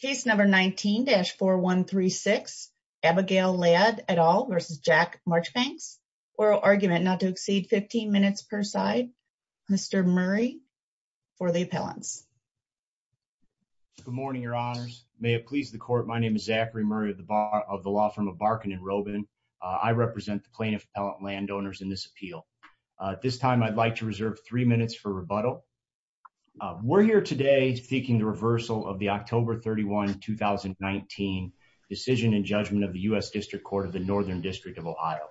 Case number 19-4136, Abigail Ladd et al. v. Jack Marchbanks. Oral argument, not to exceed 15 minutes per side. Mr. Murray for the appellants. Good morning, your honors. May it please the court, my name is Zachary Murray of the law firm of Barkin and Robin. I represent the plaintiff appellant landowners in this appeal. At this time, I'd like to reserve three minutes for rebuttal. We're here today seeking the reversal of the October 31, 2019 decision and judgment of the U.S. District Court of the Northern District of Ohio.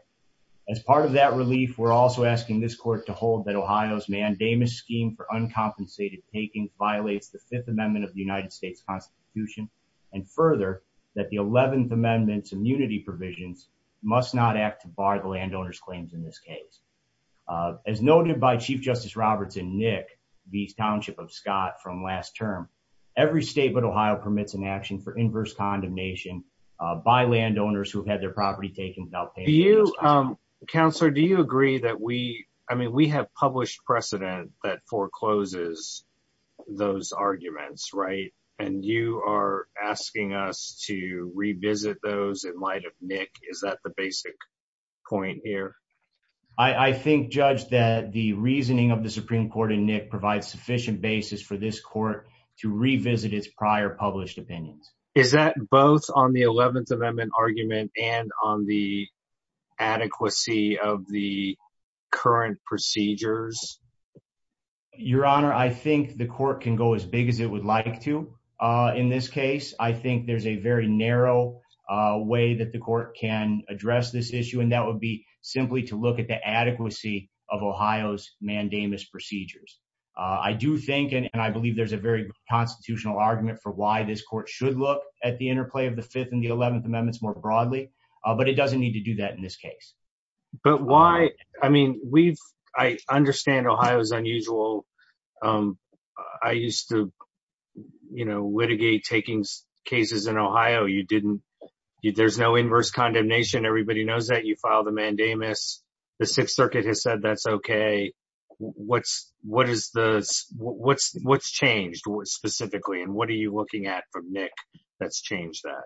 As part of that relief, we're also asking this court to hold that Ohio's mandamus scheme for uncompensated taking violates the Fifth Amendment of the United States Constitution, and further, that the 11th Amendment's immunity provisions must not act to bar the landowner's claims in this case. As noted by Chief Justice Roberts and Nick, the township of Scott from last term, every state but Ohio permits an action for inverse condemnation by landowners who have had their property taken without paying. Counselor, do you agree that we, I mean, we have published precedent that forecloses those arguments, right? And you are asking us to revisit those in light of Nick. Is that the basic point here? I think, Judge, that the reasoning of the Supreme Court and Nick provides sufficient basis for this court to revisit its prior published opinions. Is that both on the 11th Amendment argument and on the adequacy of the current procedures? Your Honor, I think the court can go as big as it would like to in this case. I think there's a very narrow way that the court can address this issue, and that would be simply to look at the adequacy of Ohio's mandamus procedures. I do think, and I believe there's a very constitutional argument for why this court should look at the interplay of the Fifth and the 11th Amendments more broadly, but it doesn't need to do that in this case. But why, I mean, we've, I understand Ohio's unusual, I used to, you know, everybody knows that you filed a mandamus. The Sixth Circuit has said that's okay. What's changed specifically, and what are you looking at from Nick that's changed that?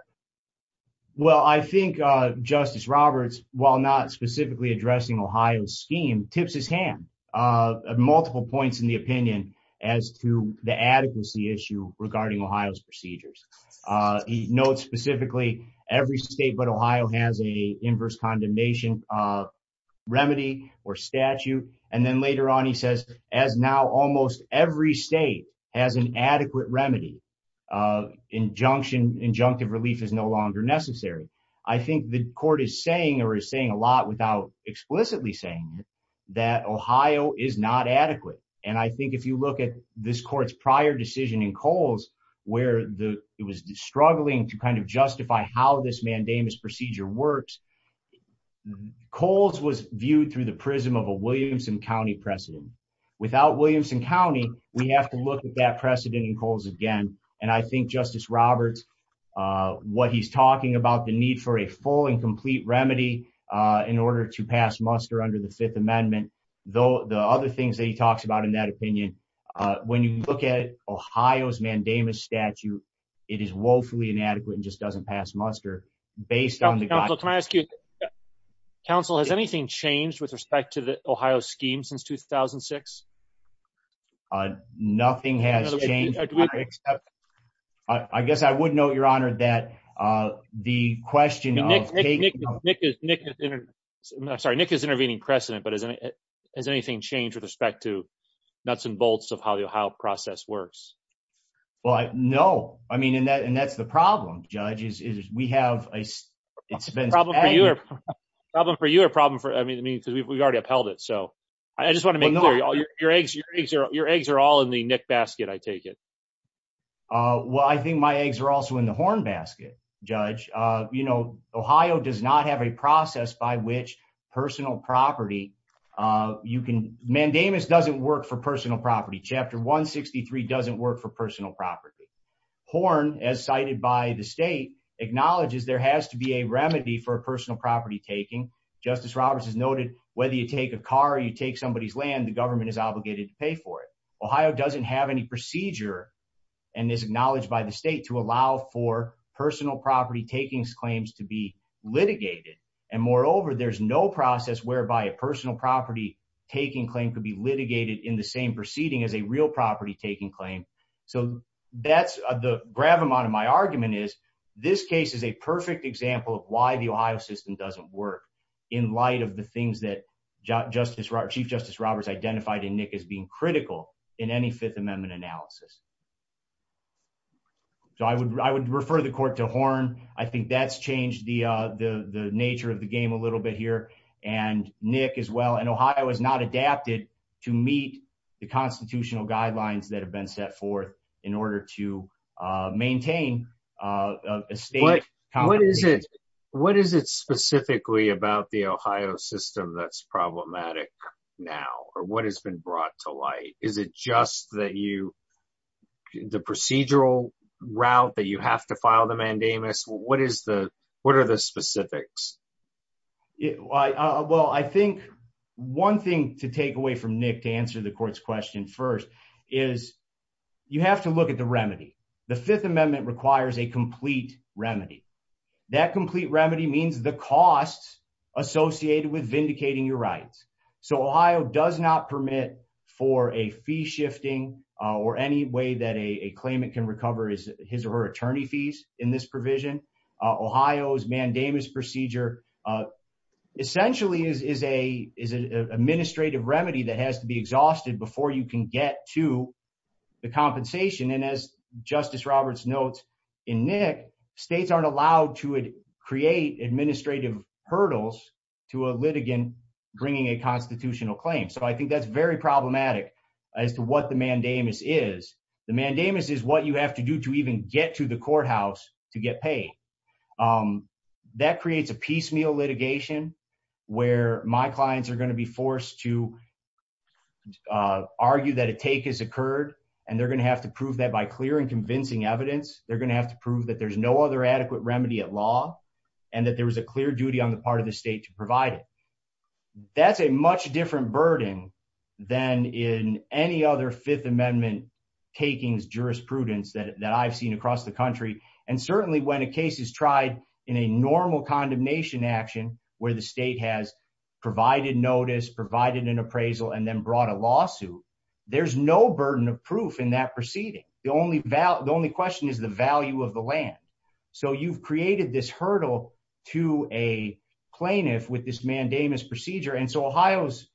Well, I think Justice Roberts, while not specifically addressing Ohio's scheme, tips his hand at multiple points in the opinion as to the adequacy issue regarding Ohio's procedures. He notes specifically every state but Ohio has a inverse condemnation remedy or statute, and then later on he says, as now almost every state has an adequate remedy, injunction, injunctive relief is no longer necessary. I think the court is saying, or is saying a lot without explicitly saying it, that Ohio is not adequate. And I think if you look at this court's prior decision in Coles, where the, it was struggling to kind of justify how this mandamus procedure works. Coles was viewed through the prism of a Williamson County precedent. Without Williamson County, we have to look at that precedent in Coles again. And I think Justice Roberts, what he's talking about the need for a full and complete remedy in order to pass muster under the Fifth Amendment, though the other things that he talks about in that opinion, when you look at Ohio's mandamus statute, it is woefully inadequate and just doesn't pass muster. Counsel, has anything changed with respect to the Ohio scheme since 2006? Nothing has changed. I guess I would note, Your Honor, that the question of... Sorry, Nick is intervening precedent, but has anything changed with respect to nuts and bolts of how the Ohio process works? Well, no. I mean, and that's the problem, Judge, is we have... Problem for you or problem for, I mean, because we've already upheld it. So I just want to make sure your eggs are all in the Nick basket, I take it. Well, I think my eggs are also in the horn basket, Judge. Ohio does not have a process by which personal property, you can... Mandamus doesn't work for personal property. Chapter 163 doesn't work for personal property. Horn, as cited by the state, acknowledges there has to be a remedy for personal property taking. Justice Roberts has noted whether you take a car or you take somebody's land, the government is obligated to pay for it. Ohio doesn't have any procedure and is acknowledged by the state to allow for personal property takings claims to be over. There's no process whereby a personal property taking claim could be litigated in the same proceeding as a real property taking claim. So that's the gravamonte of my argument is this case is a perfect example of why the Ohio system doesn't work in light of the things that Chief Justice Roberts identified in Nick as being critical in any Fifth Amendment analysis. So I would refer the court to Horn. I think that's changed the nature of the game a little bit here. And Nick as well. And Ohio has not adapted to meet the constitutional guidelines that have been set forth in order to maintain a state... What is it specifically about the Ohio system that's problematic now? Or what has been brought to light? Is it just that the procedural route that you have to file the mandamus? What are the specifics? Well, I think one thing to take away from Nick to answer the court's question first is you have to look at the remedy. The Fifth Amendment requires a complete remedy. That complete remedy means the costs associated with vindicating your rights. So Ohio does not permit for a fee shifting or any way that a claimant can recover his or her attorney fees in this provision. Ohio's procedure essentially is an administrative remedy that has to be exhausted before you can get to the compensation. And as Justice Roberts notes in Nick, states aren't allowed to create administrative hurdles to a litigant bringing a constitutional claim. So I think that's very problematic as to what the mandamus is. The mandamus is what you have to do to even get to courthouse to get paid. That creates a piecemeal litigation where my clients are going to be forced to argue that a take has occurred. And they're going to have to prove that by clear and convincing evidence. They're going to have to prove that there's no other adequate remedy at law and that there was a clear duty on the part of the state to provide it. That's a much different burden than in any other Fifth Amendment takings jurisprudence that I've seen across the country. And certainly when a case is tried in a normal condemnation action where the state has provided notice, provided an appraisal, and then brought a lawsuit, there's no burden of proof in that proceeding. The only question is the value of the land. So you've created this hurdle to a plaintiff with this mandamus procedure. And so Ohio's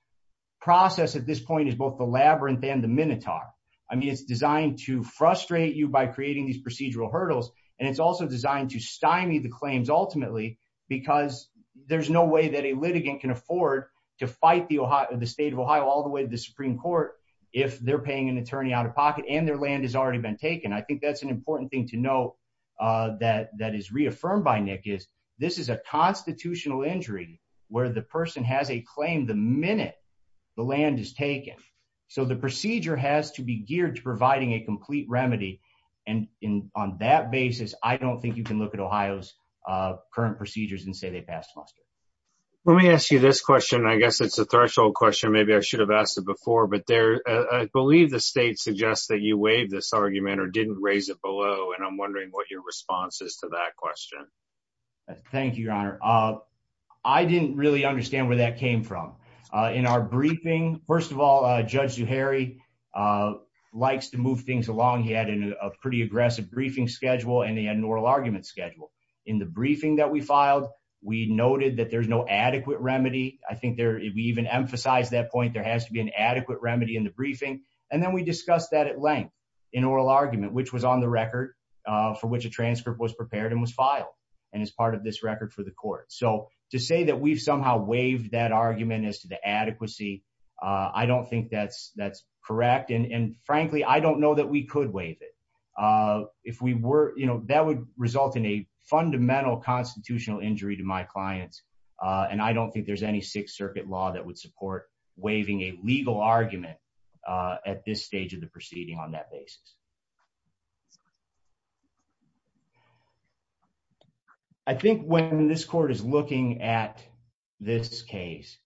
process at this point is both the labyrinth and the minotaur. I mean it's designed to frustrate you by creating these procedural hurdles. And it's also designed to stymie the claims ultimately because there's no way that a litigant can afford to fight the state of Ohio all the way to the Supreme Court if they're paying an attorney out of pocket and their land has already been taken. I think that's an important thing to know that is reaffirmed by Nick is this is a constitutional injury where the person has a claim the minute the land is taken. So the procedure has to be geared to providing a complete remedy. And on that basis, I don't think you can look at Ohio's current procedures and say they passed muster. Let me ask you this question. I guess it's a threshold question. Maybe I should have asked it before. But I believe the state suggests that you waived this argument or didn't raise it below. And I'm wondering what your response is to that question. Thank you, Your Honor. I didn't really understand where that came from in our briefing. First of all, Judge Zuhairi likes to move things along. He had a pretty aggressive briefing schedule and he had an oral argument schedule in the briefing that we filed. We noted that there's no adequate remedy. I think there we even emphasize that point. There has to be an adequate remedy in the briefing. And then we discussed that at length in oral argument, which was on the record for which a transcript was prepared and was filed and is part of this record for the court. So to say that we've somehow waived that argument as to the adequacy, I don't think that's that's correct. And frankly, I don't know that we could waive it. If we were, you know, that would result in a fundamental constitutional injury to my clients. And I don't think there's any Sixth at this stage of the proceeding on that basis. I think when this court is looking at this case,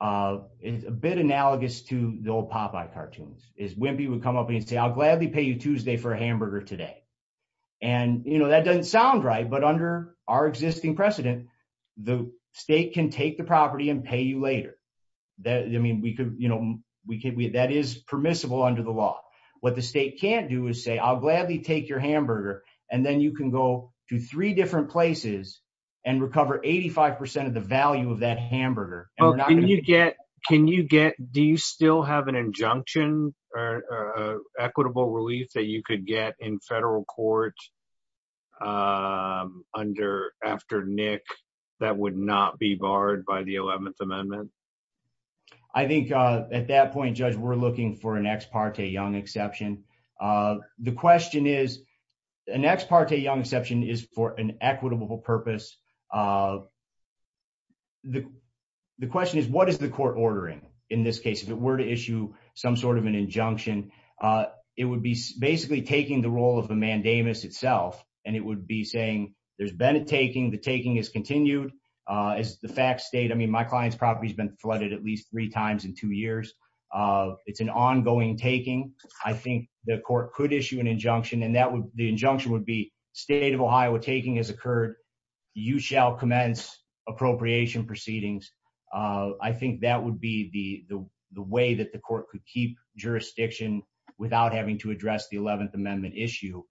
it's a bit analogous to the old Popeye cartoons is when people come up and say, I'll gladly pay you Tuesday for a hamburger today. And, you know, that doesn't sound right. But under our existing precedent, the state can take property and pay you later. That I mean, we could, you know, we can we that is permissible under the law. What the state can't do is say, I'll gladly take your hamburger. And then you can go to three different places and recover 85 percent of the value of that hamburger. Can you get do you still have an injunction or equitable relief that you could get in federal court under after Nick that would not be barred by the 11th Amendment? I think at that point, Judge, we're looking for an ex parte young exception. The question is, an ex parte young exception is for an equitable purpose. The question is, what is the court ordering in this case, if it were to issue some sort of an itself and it would be saying there's been a taking the taking is continued is the fact state. I mean, my client's property has been flooded at least three times in two years. It's an ongoing taking. I think the court could issue an injunction and that would the injunction would be state of Ohio taking has occurred. You shall commence appropriation proceedings. I think that would be the the way that the court could keep jurisdiction without having to address the 11th Amendment issue.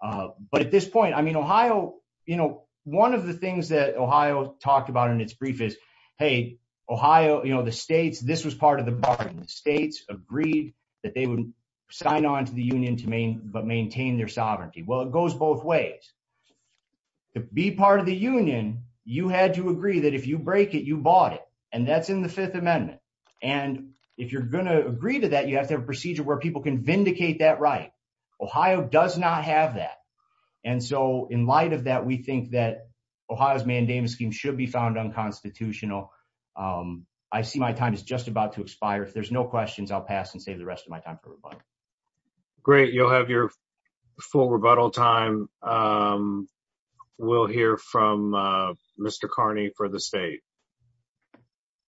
But at this point, I mean, Ohio, you know, one of the things that Ohio talked about in its brief is, hey, Ohio, you know, the states this was part of the bargain. The states agreed that they would sign on to the union to main but maintain their sovereignty. Well, it goes both ways. To be part of the union, you had to agree that if you break it, you bought it. And that's in the Fifth Amendment. And if you're going to agree to that, you have to have Ohio does not have that. And so in light of that, we think that Ohio's mandamus scheme should be found unconstitutional. I see my time is just about to expire. If there's no questions, I'll pass and save the rest of my time for rebuttal. Great. You'll have your full rebuttal time. We'll hear from Mr. Carney for the state.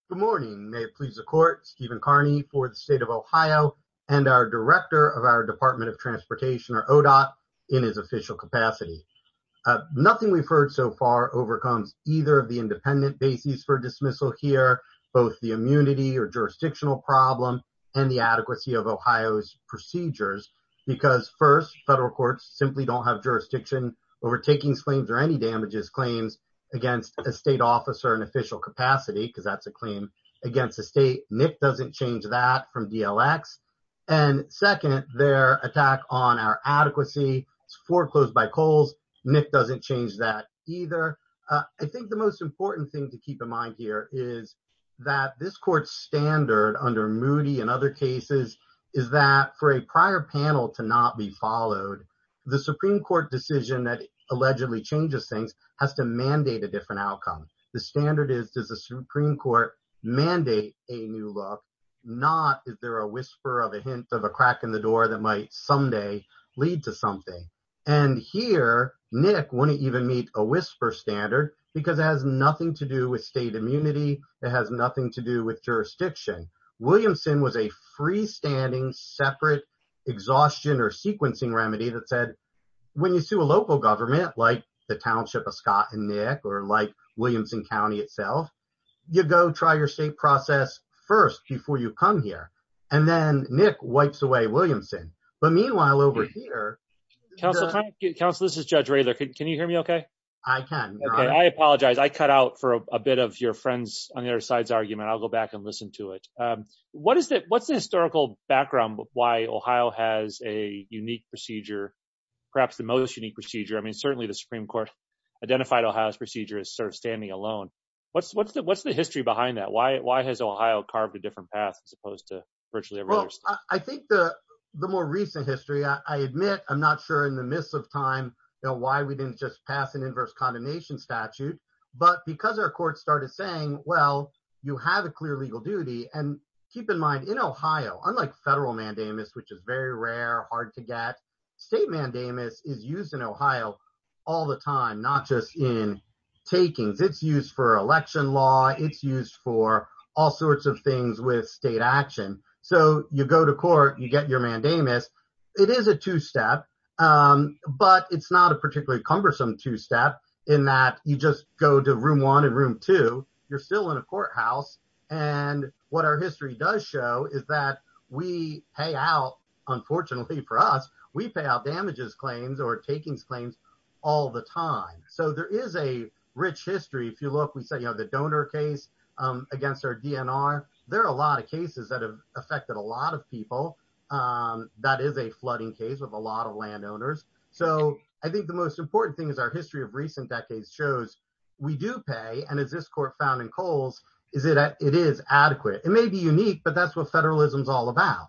Good morning. May it please the court, Stephen Carney for the state of Ohio and our director of our Department of Transportation or ODOT in his official capacity. Nothing we've heard so far overcomes either of the independent bases for dismissal here, both the immunity or jurisdictional problem and the adequacy of Ohio's procedures. Because first, federal courts simply don't have jurisdiction overtaking claims or any damages claims against a state officer in official capacity because that's a claim against the state. Nick doesn't change that from DLX. And second, their attack on our adequacy is foreclosed by Coles. Nick doesn't change that either. I think the most important thing to keep in mind here is that this court's standard under Moody and other cases is that for a prior panel to not be followed, the Supreme Court decision that allegedly changes things has to mandate a different outcome. The standard is, does the Supreme Court mandate a new look, not is there a whisper of a hint of a crack in the door that might someday lead to something? And here, Nick wouldn't even meet a whisper standard because it has nothing to do with state immunity. It has nothing to do with jurisdiction. Williamson was a freestanding, separate exhaustion or sequencing remedy that said, when you sue a local government like the Scott and Nick or like Williamson County itself, you go try your state process first before you come here. And then Nick wipes away Williamson. But meanwhile, over here... Counselor, this is Judge Rayther. Can you hear me okay? I can. I apologize. I cut out for a bit of your friends on the other side's argument. I'll go back and listen to it. What's the historical background of why Ohio has a unique procedure, perhaps the most unique procedure? Certainly the Supreme Court identified Ohio's procedure as sort of standing alone. What's the history behind that? Why has Ohio carved a different path as opposed to virtually every other state? I think the more recent history, I admit, I'm not sure in the midst of time, why we didn't just pass an inverse condemnation statute. But because our courts started saying, well, you have a clear legal duty. And keep in mind, in Ohio, unlike federal mandamus, which is very rare, hard to get, state mandamus is used in Ohio all the time, not just in takings. It's used for election law. It's used for all sorts of things with state action. So you go to court, you get your mandamus. It is a two-step, but it's not a particularly cumbersome two-step in that you just go to room one and room two, you're still in a courthouse. And what our history does show is that we pay out, unfortunately for us, we pay out damages claims or takings claims all the time. So there is a rich history. If you look, we say, you know, the donor case against our DNR, there are a lot of cases that have affected a lot of people. That is a flooding case with a lot of landowners. So I think the most important thing our history of recent decades shows, we do pay. And as this court found in Coles, it is adequate. It may be unique, but that's what federalism is all about.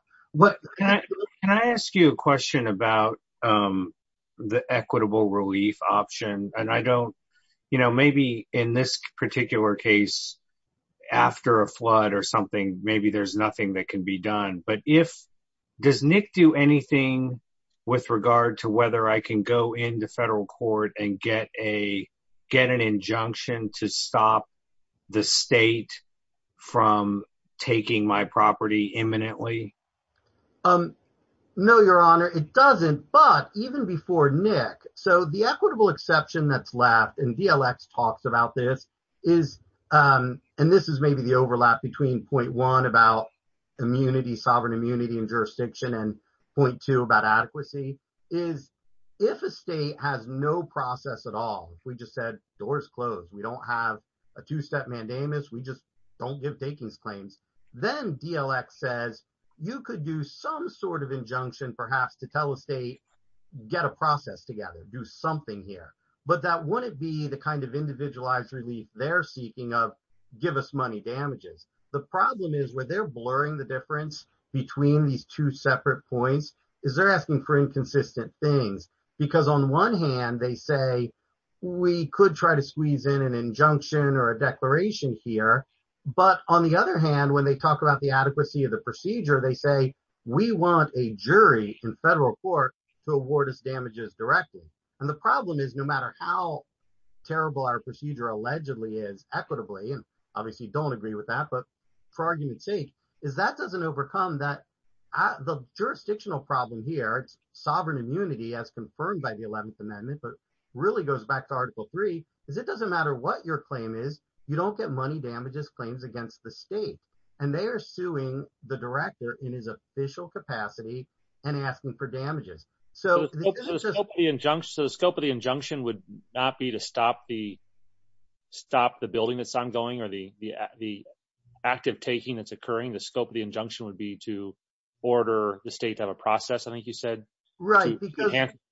Can I ask you a question about the equitable relief option? And I don't, you know, maybe in this particular case, after a flood or something, maybe there's nothing that can be done. But if, does Nick do anything with regard to whether I can go into federal court and get a, get an injunction to stop the state from taking my property imminently? No, your honor, it doesn't. But even before Nick, so the equitable exception that's left and DLX talks about this is, and this is maybe the overlap between 0.1 about immunity, sovereign immunity and jurisdiction and 0.2 about adequacy, is if a state has no process at all, we just said doors closed. We don't have a two-step mandamus. We just don't give takings claims. Then DLX says you could do some sort of injunction perhaps to tell a state, get a process together, do something here. But that wouldn't be the kind of individualized relief they're seeking of give us money damages. The problem is where they're blurring the difference between these two separate points is they're asking for inconsistent things because on one hand, they say we could try to squeeze in an injunction or a declaration here. But on the other hand, when they talk about the adequacy of the procedure, they say we want a jury in federal court to award us damages directly. And the problem is no matter how terrible our procedure allegedly is equitably, and obviously you don't agree with that, but for argument's sake, is that doesn't overcome that the jurisdictional problem here, it's sovereign immunity as confirmed by the 11th amendment, but really goes back to article three, is it doesn't matter what your claim is, you don't get money damages claims against the state. And they are suing the director in his damages. So the scope of the injunction would not be to stop the, stop the building that's ongoing or the, the, the active taking that's occurring. The scope of the injunction would be to order the state to have a process. I think you said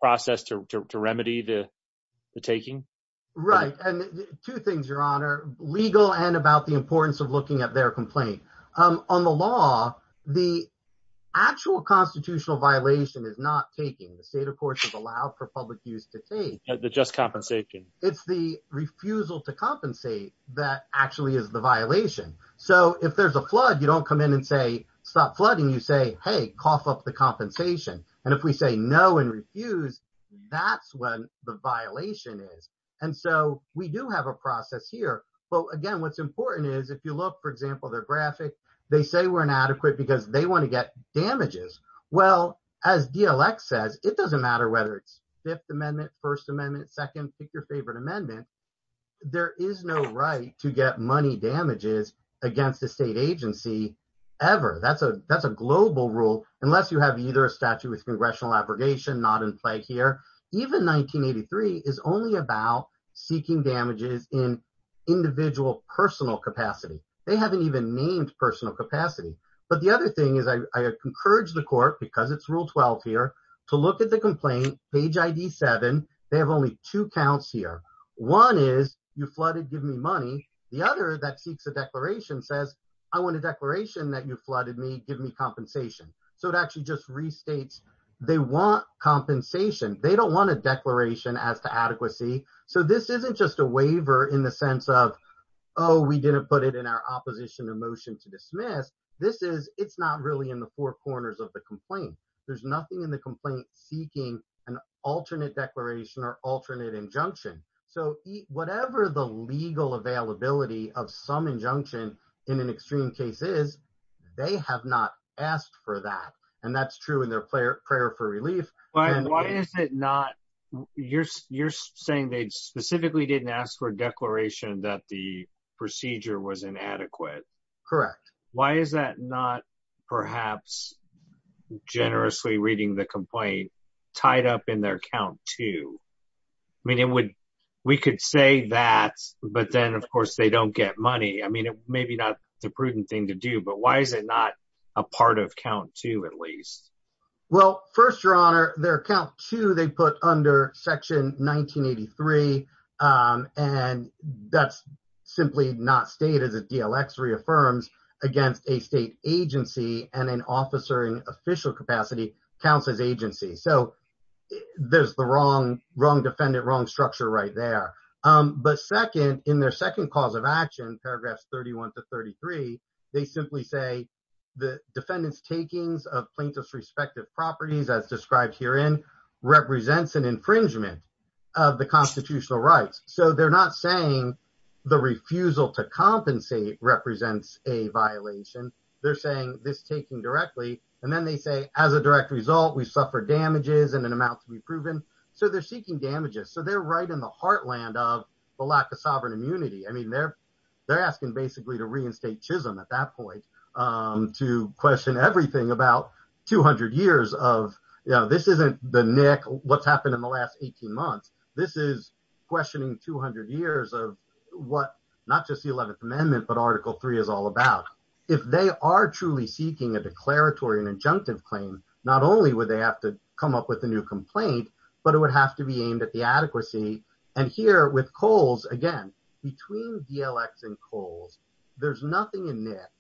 process to, to, to remedy the taking. Right. And two things, your honor legal and about the importance of looking at their complaint on the law. The actual constitutional violation is not taking the state of course, is allowed for public use to take the just compensation. It's the refusal to compensate. That actually is the violation. So if there's a flood, you don't come in and say, stop flooding. You say, Hey, cough up the compensation. And if we say no and refuse, that's when the violation is. And so we do have a process here, but again, what's important is if you look, for example, their graphic, they say we're inadequate because they want to get damages. Well, as DLX says, it doesn't matter whether it's fifth amendment, first amendment, second, pick your favorite amendment. There is no right to get money damages against the state agency ever. That's a, that's a global rule. Unless you have either a statute with congressional abrogation, not in play here, even 1983 is only about seeking damages in individual personal capacity. They haven't even named personal capacity. But the other thing is I encourage the court because it's rule 12 here to look at the complaint page ID seven. They have only two counts here. One is you flooded, give me money. The other that seeks a declaration says I want a declaration that you flooded me, give me compensation. So it actually just restates. They want compensation. They don't want a declaration as to adequacy. So this isn't just a waiver in the sense of, Oh, we didn't put it in our opposition emotion to dismiss. This is, it's not really in the four corners of the complaint. There's nothing in the complaint seeking an alternate declaration or alternate injunction. So whatever the legal availability of some injunction in an extreme cases, they have not asked for that. And that's true in their player for relief. Why is it not? You're, you're saying they specifically didn't ask for a declaration that the procedure was inadequate. Correct. Why is that not perhaps generously reading the complaint tied up in their account too? I mean, it would, we could say that, but then of course, they don't get money. I mean, it may be not the prudent thing to do, but why is it not a part of count two at least? Well, first your honor, their account to, they put under section 1983. Um, and that's simply not state as a DLX reaffirms against a state agency and an officer in official capacity counts as agency. So there's the wrong, wrong defendant, wrong structure right there. Um, but second in their second cause of action, paragraphs 31 to 33, they simply say the defendants takings of plaintiff's respective properties as described here in represents an infringement of the constitutional rights. So they're not saying the refusal to compensate represents a violation. They're saying this taking directly. And then they say as a direct result, we suffered damages and an amount to be proven. So they're seeking damages. So they're right in the heartland of the lack of sovereign immunity. I mean, they're, they're asking basically to at that point, um, to question everything about 200 years of, you know, this isn't the Nick what's happened in the last 18 months. This is questioning 200 years of what not just the 11th amendment, but article three is all about. If they are truly seeking a declaratory and injunctive claim, not only would they have to come up with a new complaint, but it would have to be aimed at the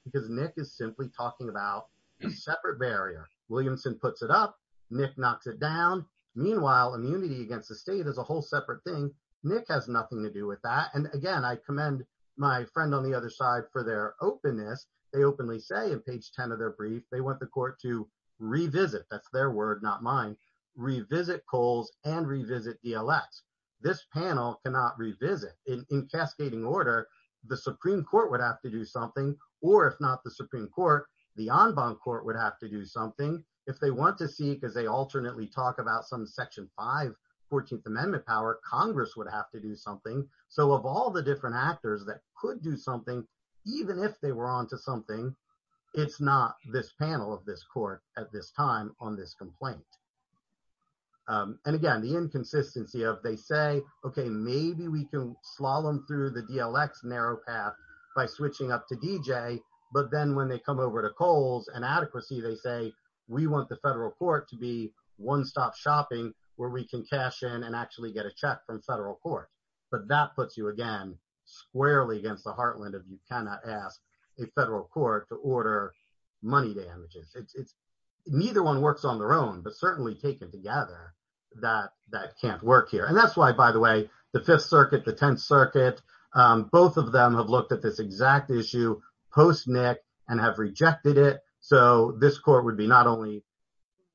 because Nick is simply talking about a separate barrier. Williamson puts it up, Nick knocks it down. Meanwhile, immunity against the state as a whole separate thing. Nick has nothing to do with that. And again, I commend my friend on the other side for their openness. They openly say in page 10 of their brief, they want the court to revisit that's their word, not mine, revisit coals and revisit DLX. This panel cannot revisit in cascading order. The Supreme court would have to do something, or if not the Supreme court, the on bond court would have to do something if they want to see, cause they alternately talk about some section five 14th amendment power, Congress would have to do something. So of all the different actors that could do something, even if they were onto something, it's not this panel of this court at this time on this complaint. Um, and again, the inconsistency of they say, okay, maybe we can through the DLX narrow path by switching up to DJ. But then when they come over to coals and adequacy, they say, we want the federal court to be one-stop shopping where we can cash in and actually get a check from federal court. But that puts you again, squarely against the heartland of you cannot ask a federal court to order money damages. It's neither one works on their own, but certainly taken together that that can't work here. And that's why, by the way, the fifth circuit, um, both of them have looked at this exact issue post Nick and have rejected it. So this court would be not only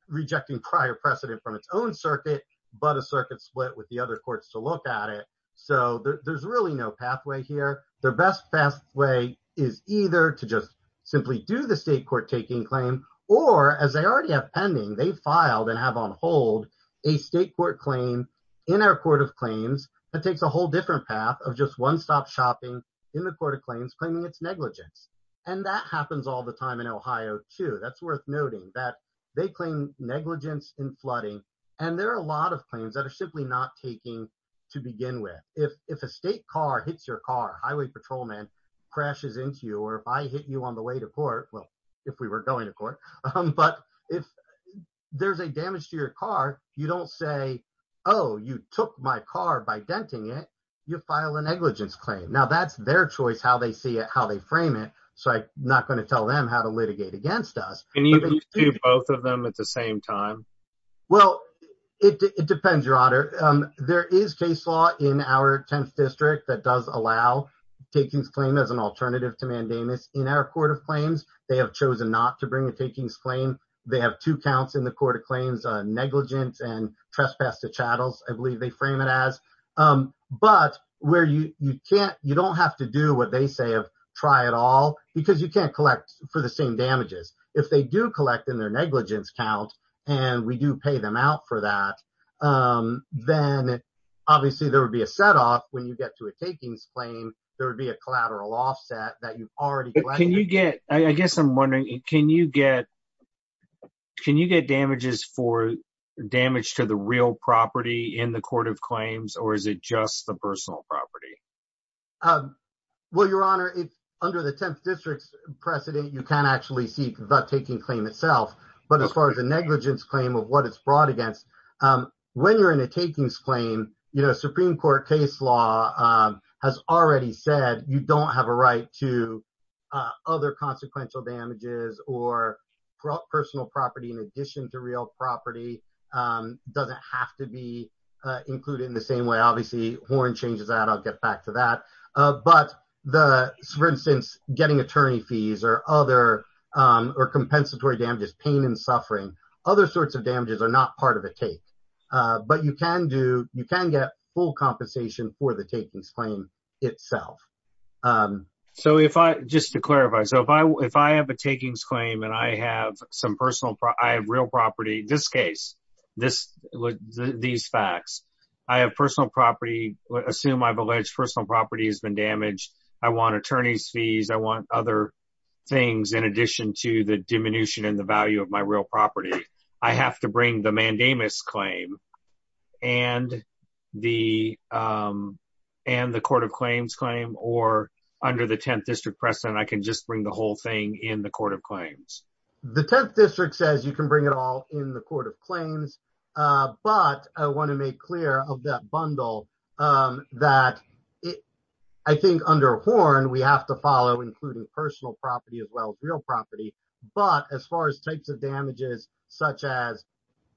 rejecting prior precedent from its own circuit, but a circuit split with the other courts to look at it. So there's really no pathway here. Their best best way is either to just simply do the state court taking claim, or as they already have pending, they filed and have on hold a state court claim in our court of claims that takes a whole different path of just one-stop shopping in the court of claims, claiming it's negligence. And that happens all the time in Ohio too. That's worth noting that they claim negligence in flooding. And there are a lot of claims that are simply not taking to begin with. If, if a state car hits your car, highway patrolman crashes into you, or if I hit you on the way to court, well, if we were going to court, um, but if there's a damage to your car, you don't say, oh, you took my car by denting it. You file a negligence claim. Now that's their choice, how they see it, how they frame it. So I'm not going to tell them how to litigate against us. Both of them at the same time. Well, it, it depends your honor. Um, there is case law in our 10th district that does allow takings claim as an alternative to mandamus in our court of claims. They have chosen not to bring a takings claim. They have two counts in the court of claims, uh, negligence and trespass to chattels. I believe they frame it as, um, but where you, you can't, you don't have to do what they say of try it all because you can't collect for the same damages. If they do collect in their negligence count and we do pay them out for that, um, then obviously there would be a set off when you get to a takings claim, there would be a collateral offset that you've already. Can you get, I guess in the court of claims or is it just the personal property? Um, well, your honor, it's under the 10th district precedent. You can't actually see the taking claim itself, but as far as the negligence claim of what it's brought against, um, when you're in a takings claim, you know, Supreme court case law, um, has already said you don't have a right to, uh, other consequential damages or personal property. In addition to real property, um, doesn't have to be, uh, included in the same way. Obviously horn changes that I'll get back to that. Uh, but the, for instance, getting attorney fees or other, um, or compensatory damages, pain and suffering, other sorts of damages are not part of the tape. Uh, but you can do, you can get full compensation for the takings claim itself. Um, so if I, just to clarify, so if if I have a takings claim and I have some personal, I have real property, this case, this, these facts, I have personal property. Assume I've alleged personal property has been damaged. I want attorney's fees. I want other things in addition to the diminution and the value of my real property. I have to bring the mandamus claim and the, um, and the court of claims. The 10th district says you can bring it all in the court of claims. Uh, but I want to make clear of that bundle, um, that I think under horn, we have to follow including personal property as well as real property. But as far as types of damages, such as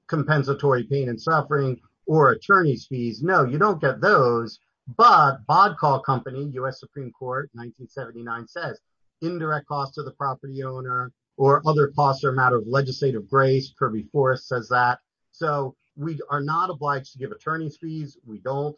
compensatory pain and suffering or attorney's fees, no, you don't get those. But bod call company, us Supreme court 1979 says indirect costs to the property owner or other costs are a matter of legislative grace. Kirby forest says that. So we are not obliged to give attorney's fees. We don't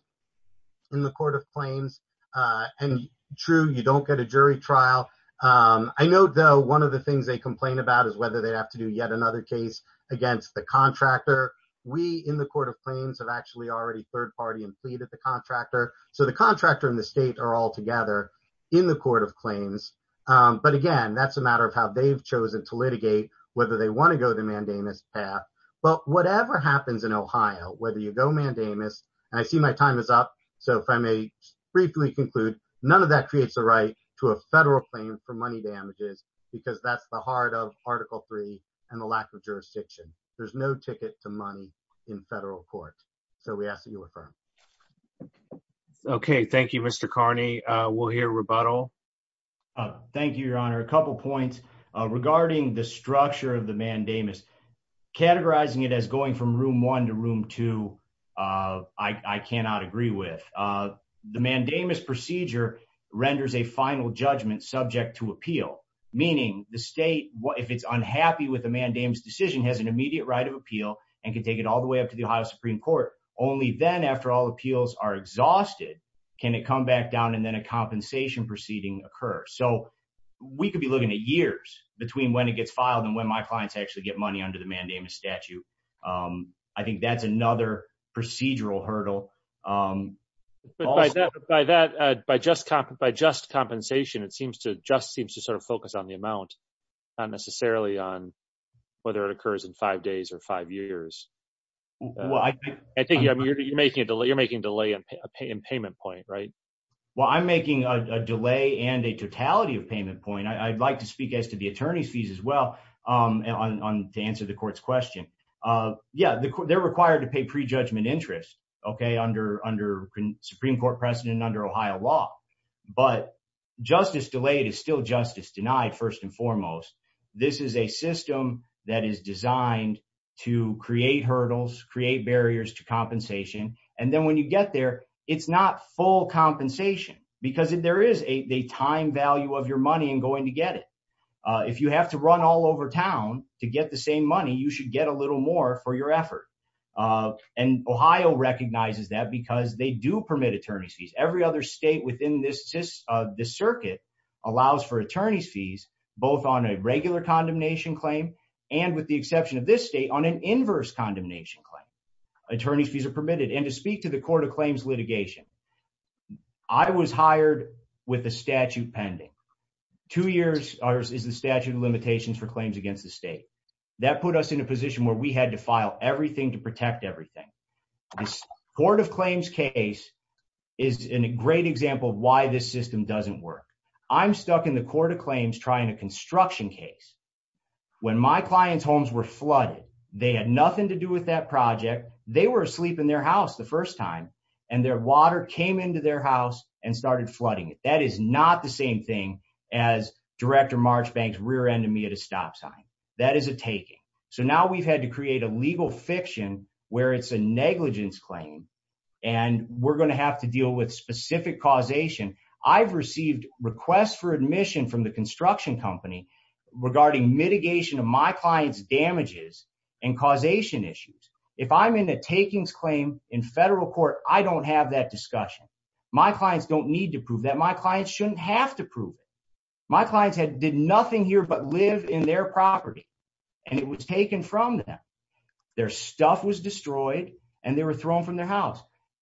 in the court of claims, uh, and true, you don't get a jury trial. Um, I know though, one of the things they complain about is whether they'd have to do yet another case against the contractor. We in the court of claims have actually already third party and plead at the contractor. So the contractor and the state are all together in the court of claims. Um, but again, that's a matter of how they've chosen to litigate whether they want to go the mandamus path. But whatever happens in Ohio, whether you go mandamus and I see my time is up. So if I may briefly conclude, none of that creates the right to a federal claim for money damages because that's the heart of article three and the lack of jurisdiction. There's no ticket to money in federal court. So we ask that you affirm. Okay. Thank you. Mr Carney. Uh, we'll hear rebuttal. Uh, thank you, your honor. A couple points regarding the structure of the mandamus, categorizing it as going from room one to room two. Uh, I, I cannot agree with, uh, the mandamus procedure renders a final judgment subject to appeal, meaning the state, if it's unhappy with the mandamus decision has an immediate right of appeal and can take it all the way up to the Ohio Supreme court. Only then after all appeals are exhausted, can it come back down and then a compensation proceeding occur. So we could be looking at years between when it gets filed and when my clients actually get money under the mandamus statute. Um, I think that's another procedural hurdle. Um, but by that, by that, uh, by just cop, by just compensation, it seems to just seems to sort of focus on the amount, not necessarily on whether it occurs in five days or five years. Well, I think you're making a delay. You're making a delay in payment point, right? Well, I'm making a delay and a totality of payment point. I'd like to speak as to the attorney's fees as well. Um, and on, on to answer the court's question, uh, yeah, they're required to pay prejudgment interest. Okay. Under, under Supreme court precedent under Ohio law, but justice delayed is still justice denied first and foremost. This is a system that is designed to create hurdles, create barriers to compensation. And then when you get there, it's not full compensation because there is a time value of your money and going to get it. Uh, if you have to run all over town to get the same money, you should get a little more for your effort. Uh, and Ohio recognizes that because they do permit attorney's fees. Every other state within this, this, uh, this circuit allows for attorney's fees, both on a regular condemnation claim. And with the exception of this state on an inverse condemnation claim, attorney's fees are permitted. And to speak to the court of claims litigation, I was hired with a statute pending two years. Ours is the statute of limitations for claims against the state that put us in a position where we had to file everything to protect everything. This court of claims case is in a great example of why this system doesn't work. I'm stuck in the court of claims, trying to construction case. When my client's homes were flooded, they had nothing to do with that project. They were asleep in their house the first time and their water came into their house and started flooding it. That is not the same thing as director March banks rear ended me at a stop sign. That is a taking. So now we've had to create a legal fiction where it's a negligence claim and we're going to have to deal with specific causation. I've received requests for admission from the construction company regarding mitigation of my client's damages and causation issues. If I'm in a takings claim in federal court, I don't have that discussion. My clients don't need to prove that my clients shouldn't have to prove it. My clients had did nothing here, but live in their property. And it was taken from them. Their stuff was destroyed and they were thrown from their house.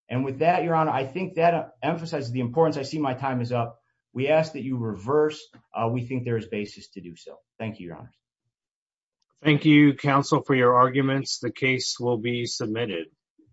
And with that, your honor, I think that emphasizes the importance. I see my time is up. We ask that you reverse. We think there is basis to do so. Thank you, your honor. Thank you counsel for your arguments. The case will be submitted.